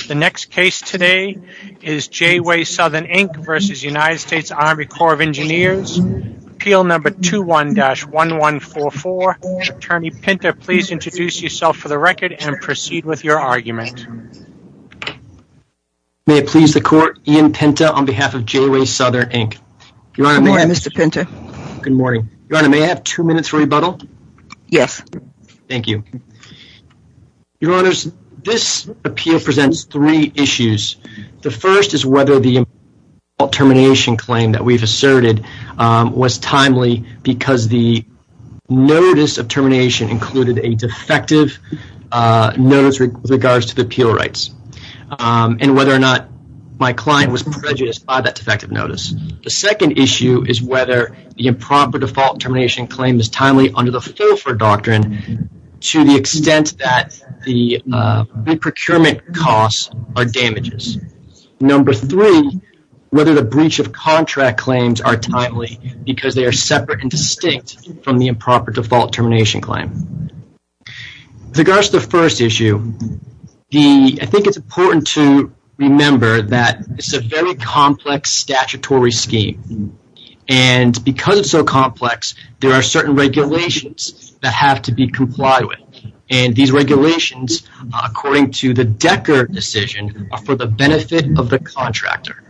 Appeal No. 21-1144 Attorney Pinta, please introduce yourself for the record and proceed with your argument. May it please the Court, Ian Pinta on behalf of J-Way Southern, Inc. Good morning, Mr. Pinta. Good morning. Your Honor, may I have two minutes for rebuttal? Yes. Thank you. Your Honor, this appeal presents three issues. The first is whether the improper default termination claim that we've asserted was timely because the notice of termination included a defective notice with regards to the appeal rights and whether or not my client was prejudiced by that defective notice. The second issue is whether the improper default termination claim is timely under the Filfer Doctrine to the extent that the re-procurement costs are damages. Number three, whether the breach of contract claims are timely because they are separate and distinct from the improper default termination claim. With regards to the first issue, I think it's important to remember that it's a very complex have to be complied with. These regulations, according to the Decker decision, are for the benefit of the contractor.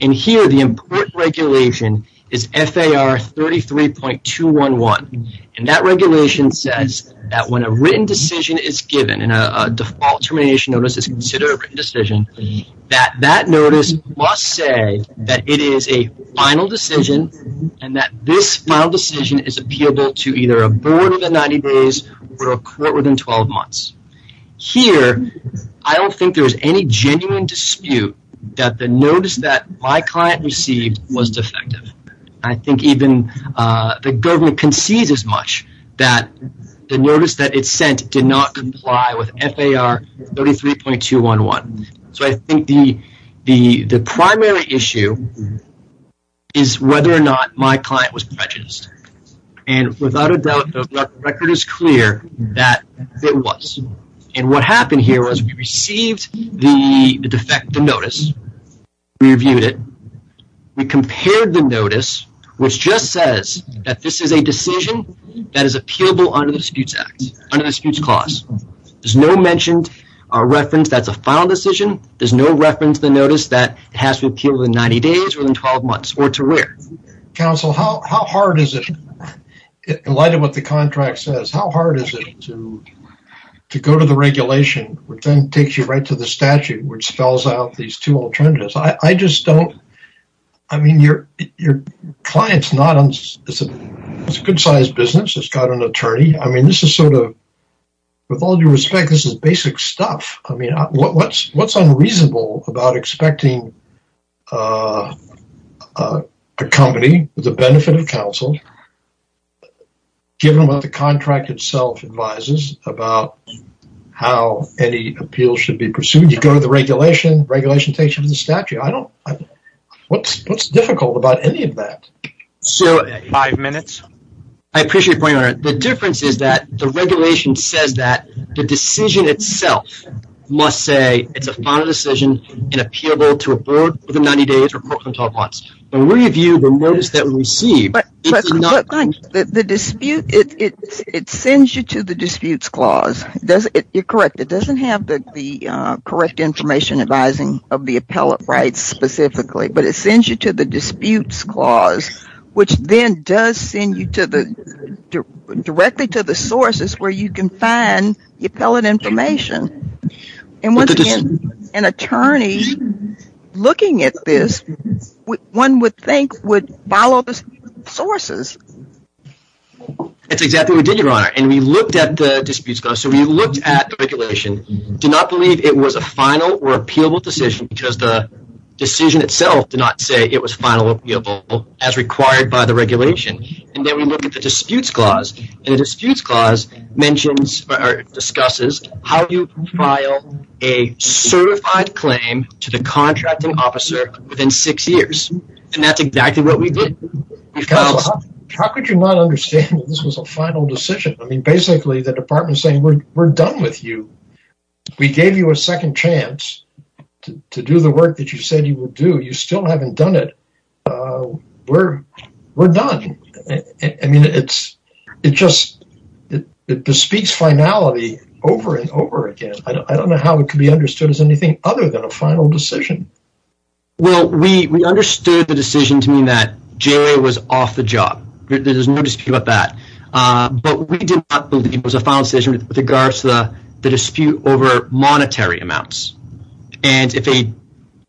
Here the important regulation is FAR 33.211. That regulation says that when a written decision is given and a default termination notice is considered a written decision, that that notice must say that it is a final decision and that this final decision is appealable to either a board within 90 days or a court within 12 months. Here I don't think there's any genuine dispute that the notice that my client received was defective. I think even the government concedes as much that the notice that it sent did not comply with FAR 33.211. I think the primary issue is whether or not my client was prejudiced. Without a doubt, the record is clear that it was. What happened here was we received the defective notice, we reviewed it, we compared the notice which just says that this is a decision that is appealable under the Disputes Act, under the Disputes Clause. There's no mentioned or reference that's a final decision. There's no reference to the notice that has to appeal within 90 days or within 12 months or to where. Counsel, how hard is it, in light of what the contract says, how hard is it to go to the regulation which then takes you right to the statute which spells out these two alternatives? I just don't, I mean, your client's not, it's a good-sized business, it's got an attorney. I mean, this is sort of, with all due respect, this is basic stuff. I mean, what's unreasonable about expecting a company with the benefit of counsel, given what the contract itself advises about how any appeal should be pursued? You go to the regulation, regulation takes you to the statute. I don't, what's difficult about any of that? I appreciate the point you're making. The difference is that the regulation says that the decision itself must say it's a final decision and appealable to a board within 90 days or within 12 months, but when we review the notice that we receive, it's not... The dispute, it sends you to the Disputes Clause, you're correct, it doesn't have the correct information advising of the appellate rights specifically, but it sends you to the sources where you can find the appellate information. And once again, an attorney looking at this, one would think would follow the sources. That's exactly what we did, Your Honor, and we looked at the Disputes Clause, so we looked at the regulation, did not believe it was a final or appealable decision because the decision itself did not say it was final or appealable as required by the regulation, and then we looked at the Disputes Clause, and the Disputes Clause mentions or discusses how you file a certified claim to the contracting officer within six years, and that's exactly what we did. Counsel, how could you not understand that this was a final decision? I mean, basically, the department's saying, we're done with you. We gave you a second chance to do the work that you said you would do. You still haven't done it. We're done. I mean, it just bespeaks finality over and over again. I don't know how it could be understood as anything other than a final decision. Well, we understood the decision to mean that J.A. was off the job. There's no dispute about that, but we did not believe it was a final decision with regards to the dispute over monetary amounts. And if a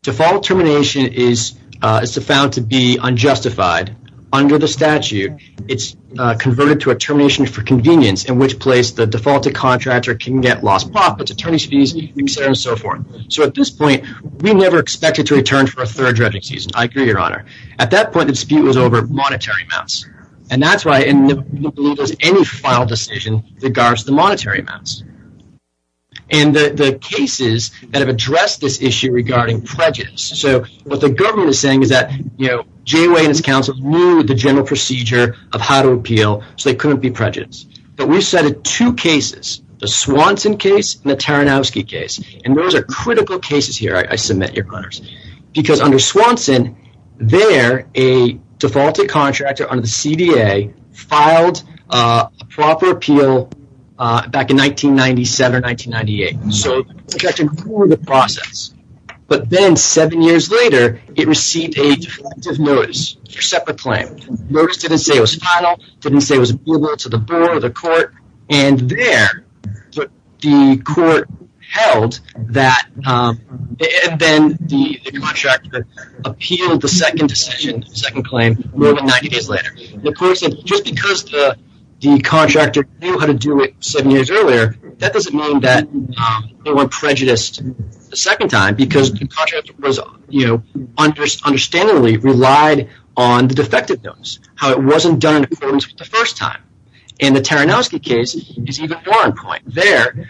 default termination is found to be unjustified under the statute, it's converted to a termination for convenience, in which place the defaulted contractor can get lost profits, attorney's fees, et cetera and so forth. So at this point, we never expected to return for a third dredging season. I agree, Your Honor. At that point, the dispute was over monetary amounts. And that's why we didn't believe it was any final decision with regards to the monetary amounts. And the cases that have addressed this issue regarding prejudice. So what the government is saying is that, you know, J.A. and his counsel knew the general procedure of how to appeal, so they couldn't be prejudiced. But we've cited two cases, the Swanson case and the Taranowski case. And those are critical cases here, I submit, Your Honors. Because under Swanson, there, a defaulted contractor under the CDA filed a proper appeal back in 1997 or 1998. So the contractor could go through the process. But then seven years later, it received a defective notice, a separate claim. Notice didn't say it was final, didn't say it was appealable to the board or the court. And there, the court held that, and then the contractor appealed the second decision, second claim more than 90 days later. The court said, just because the contractor knew how to do it seven years earlier, that doesn't mean that they weren't prejudiced the second time, because the contractor was, you know, understandably relied on the defective notice, how it wasn't done in accordance with the first time. And the Taranowski case is even more on point. There,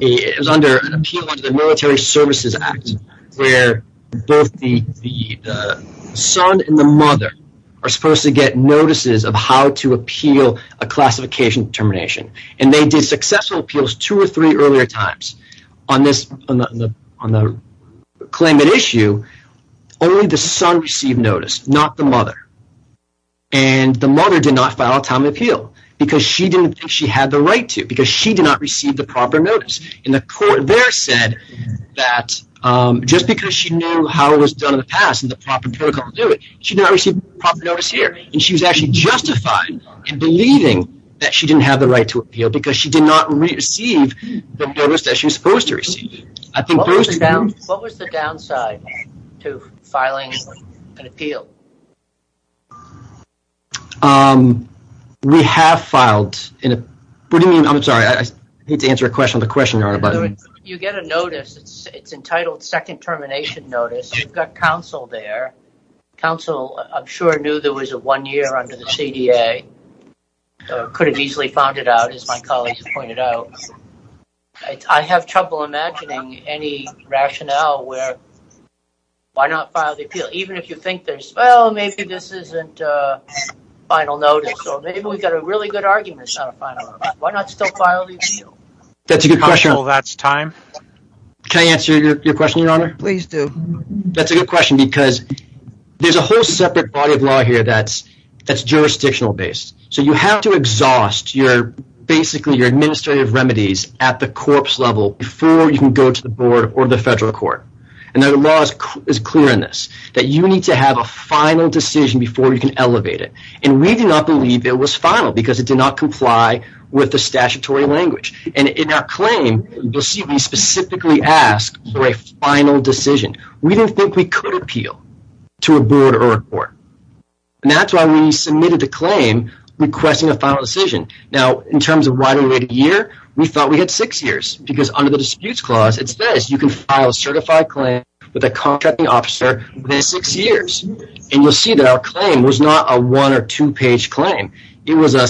it was under an appeal under the Military Services Act, where both the son and the mother are supposed to get notices of how to appeal a classification determination. And they did successful appeals two or three earlier times. On this, on the claimant issue, only the son received notice, not the mother. And the mother did not file a time of appeal, because she didn't think she had the right to, because she did not receive the proper notice. And the court there said that, just because she knew how it was done in the past and the she was actually justified in believing that she didn't have the right to appeal, because she did not receive the notice that she was supposed to receive. I think those two... What was the downside to filing an appeal? We have filed in a, what do you mean, I'm sorry, I hate to answer a question on the question on a button. You get a notice, it's entitled second termination notice, you've got counsel there, counsel, I'm sure knew there was a one year under the CDA, could have easily found it out, as my colleagues pointed out. I have trouble imagining any rationale where, why not file the appeal? Even if you think there's, well, maybe this isn't a final notice, or maybe we've got a really good arguments on a final notice, why not still file the appeal? That's a good question. Counsel, that's time. Can I answer your question, Your Honor? Please do. That's a good question, because there's a whole separate body of law here that's jurisdictional based. You have to exhaust your, basically, your administrative remedies at the corpse level before you can go to the board or the federal court. The law is clear in this, that you need to have a final decision before you can elevate it. We do not believe it was final, because it did not comply with the statutory language. In our claim, you'll see we specifically asked for a final decision. We didn't think we could appeal to a board or a court. That's why we submitted the claim requesting a final decision. In terms of why we waited a year, we thought we had six years, because under the disputes clause it says you can file a certified claim with a contracting officer within six years. You'll see that our claim was not a one or two page claim. It was a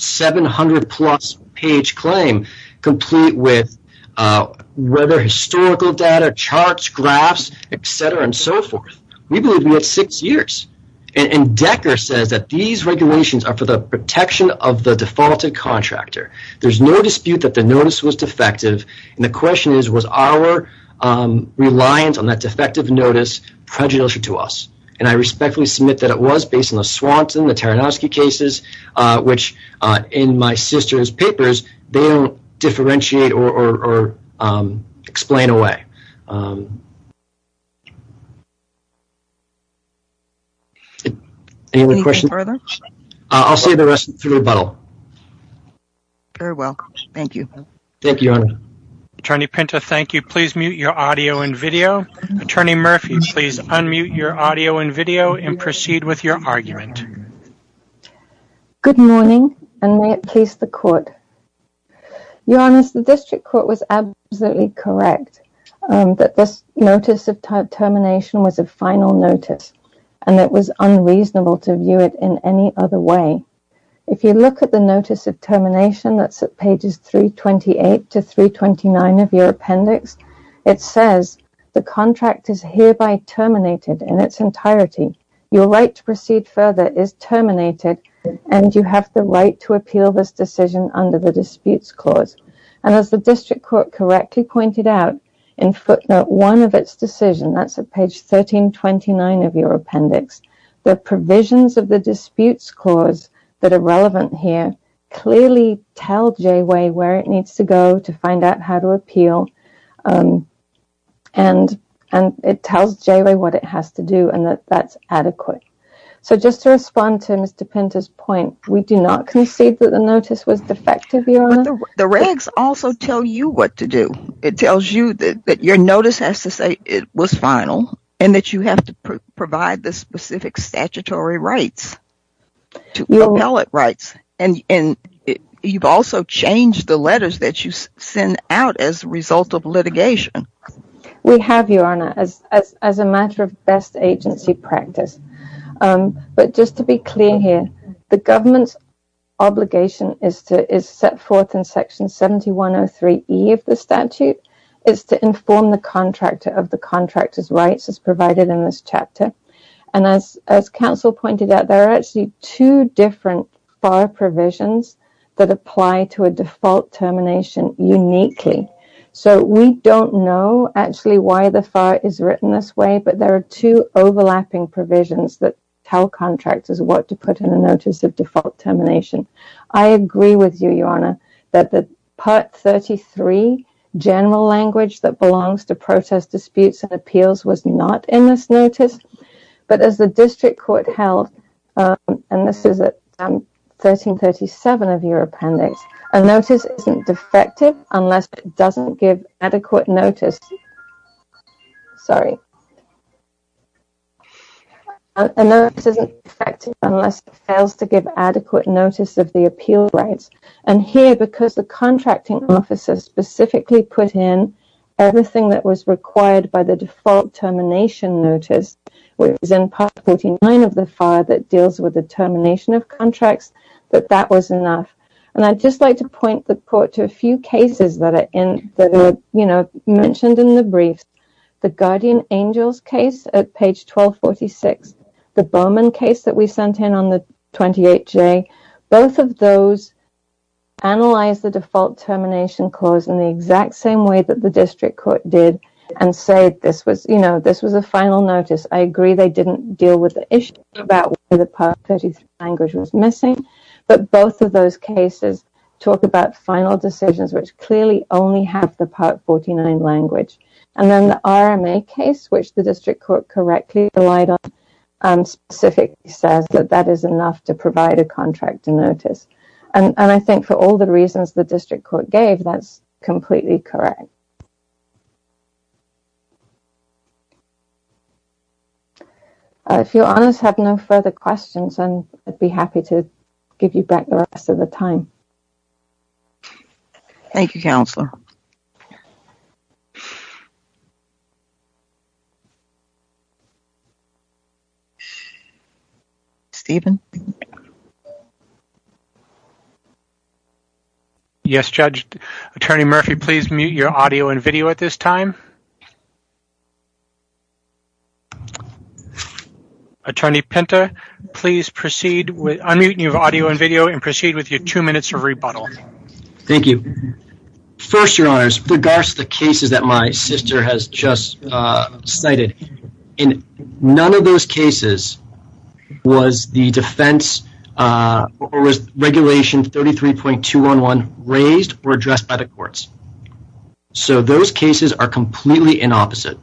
700 plus page claim, complete with historical data, charts, graphs, et cetera, and so forth. We believe we had six years, and Decker says that these regulations are for the protection of the defaulted contractor. There's no dispute that the notice was defective, and the question is, was our reliance on that defective notice prejudicial to us? I respectfully submit that it was, based on the Swanson, the Taranowski cases, which in my sister's papers, they don't differentiate or explain away. Any other questions? Any further? I'll save the rest for rebuttal. You're welcome. Thank you. Thank you, Your Honor. Attorney Pinto, thank you. Please mute your audio and video. Attorney Murphy, please unmute your audio and video and proceed with your argument. Good morning, and may it please the court. Your Honor, the district court was absolutely correct that this notice of termination was a final notice, and it was unreasonable to view it in any other way. If you look at the notice of termination, that's at pages 328 to 329 of your appendix, it says, the contract is hereby terminated in its entirety. Your right to proceed further is terminated, and you have the right to appeal this decision under the disputes clause. And as the district court correctly pointed out in footnote one of its decision, that's at page 1329 of your appendix, the provisions of the disputes clause that are relevant here clearly tell J-Way where it needs to go to find out how to appeal, and it tells J-Way what it has to do, and that that's adequate. So just to respond to Mr. Pinto's point, we do not concede that the notice was defective, Your Honor? The regs also tell you what to do. It tells you that your notice has to say it was final, and that you have to provide the You've also changed the letters that you send out as a result of litigation. We have, Your Honor, as a matter of best agency practice. But just to be clear here, the government's obligation is set forth in section 7103E of the statute. It's to inform the contractor of the contractor's rights as provided in this chapter. And as counsel pointed out, there are actually two different FAR provisions that apply to a default termination uniquely. So we don't know actually why the FAR is written this way, but there are two overlapping provisions that tell contractors what to put in a notice of default termination. I agree with you, Your Honor, that the part 33 general language that belongs to protest disputes and appeals was not in this notice. But as the district court held, and this is at 1337 of your appendix, a notice isn't defective unless it doesn't give adequate notice of the appeal rights. And here, because the contracting officer specifically put in everything that was required by the default termination notice, it was in part 49 of the FAR that deals with the termination of contracts, but that was enough. And I'd just like to point the court to a few cases that are mentioned in the briefs. The Guardian Angels case at page 1246, the Bowman case that we sent in on the 28J, both of those analyze the default termination clause in the exact same way that the district court did and said this was a final notice. I agree they didn't deal with the issue about where the part 33 language was missing, but both of those cases talk about final decisions which clearly only have the part 49 language. And then the RMA case, which the district court correctly relied on, specifically says that that is enough to provide a contractor notice. And I think for all the reasons the district court gave, that's completely correct. If your honors have no further questions, I'd be happy to give you back the rest of the time. Thank you, Counselor. Stephen? Yes, Judge. Attorney Murphy, please mute your audio and video at this time. Attorney Pinta, please unmute your audio and video and proceed with your two minutes of rebuttal. Thank you. First, your honors, with regards to the cases that my sister has just cited, in none of those cases was the defense or was regulation 33.211 raised or addressed by the courts. So those cases are completely inopposite.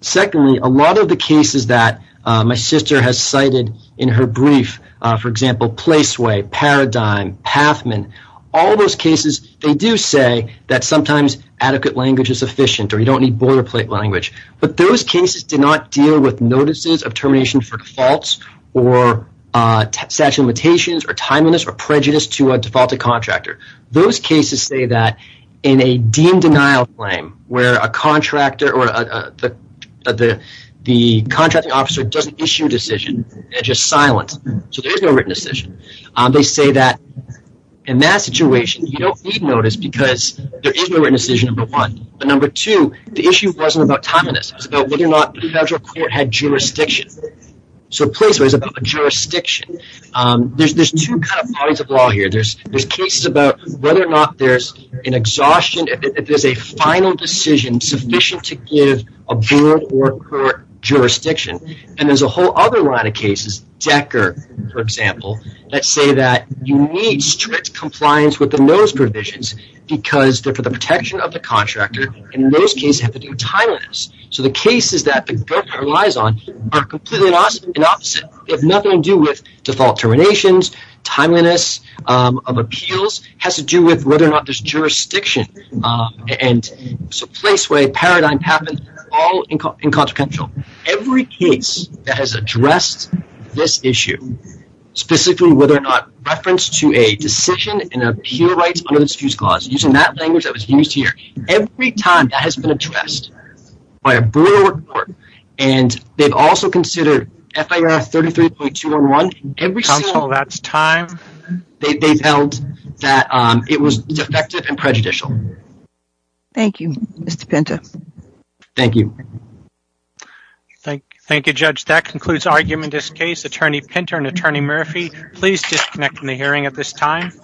Secondly, a lot of the cases that my sister has cited in her brief, for example, Placeway, Paradigm, Pathman, all those cases, they do say that sometimes adequate language is sufficient or you don't need border plate language, but those cases did not deal with notices of termination for defaults or statute of limitations or timeliness or prejudice to a defaulted contractor. Those cases say that in a deemed denial claim where a contractor or the contracting officer doesn't issue a decision, they're just silent. So there is no written decision. They say that in that situation, you don't need notice because there is no written decision, but number two, the issue wasn't about timeliness. It was about whether or not the federal court had jurisdiction. So Placeway is about jurisdiction. There's two kinds of bodies of law here. There's cases about whether or not there's an exhaustion, if there's a final decision sufficient to give a board or court jurisdiction, and there's a whole other line of cases, Decker, for example, that say that you need strict compliance with the notice provisions because they're for the protection of the contractor and in those cases have to do with timeliness. So the cases that the government relies on are completely the opposite. They have nothing to do with default terminations, timeliness of appeals, has to do with whether or not there's jurisdiction. And so Placeway, Paradigm, Papen, all inconsequential. Every case that has addressed this issue, specifically whether or not reference to a decision in appeal rights under the Defuse Clause, using that language that was used here, every time that has been addressed by a board or court, and they've also considered FIR 33.211. Counsel, that's time. They've held that it was defective and prejudicial. Thank you, Mr. Pinta. Thank you. Thank you, Judge. That concludes argument in this case. Attorney Pinta and Attorney Murphy, please disconnect from the hearing at this time.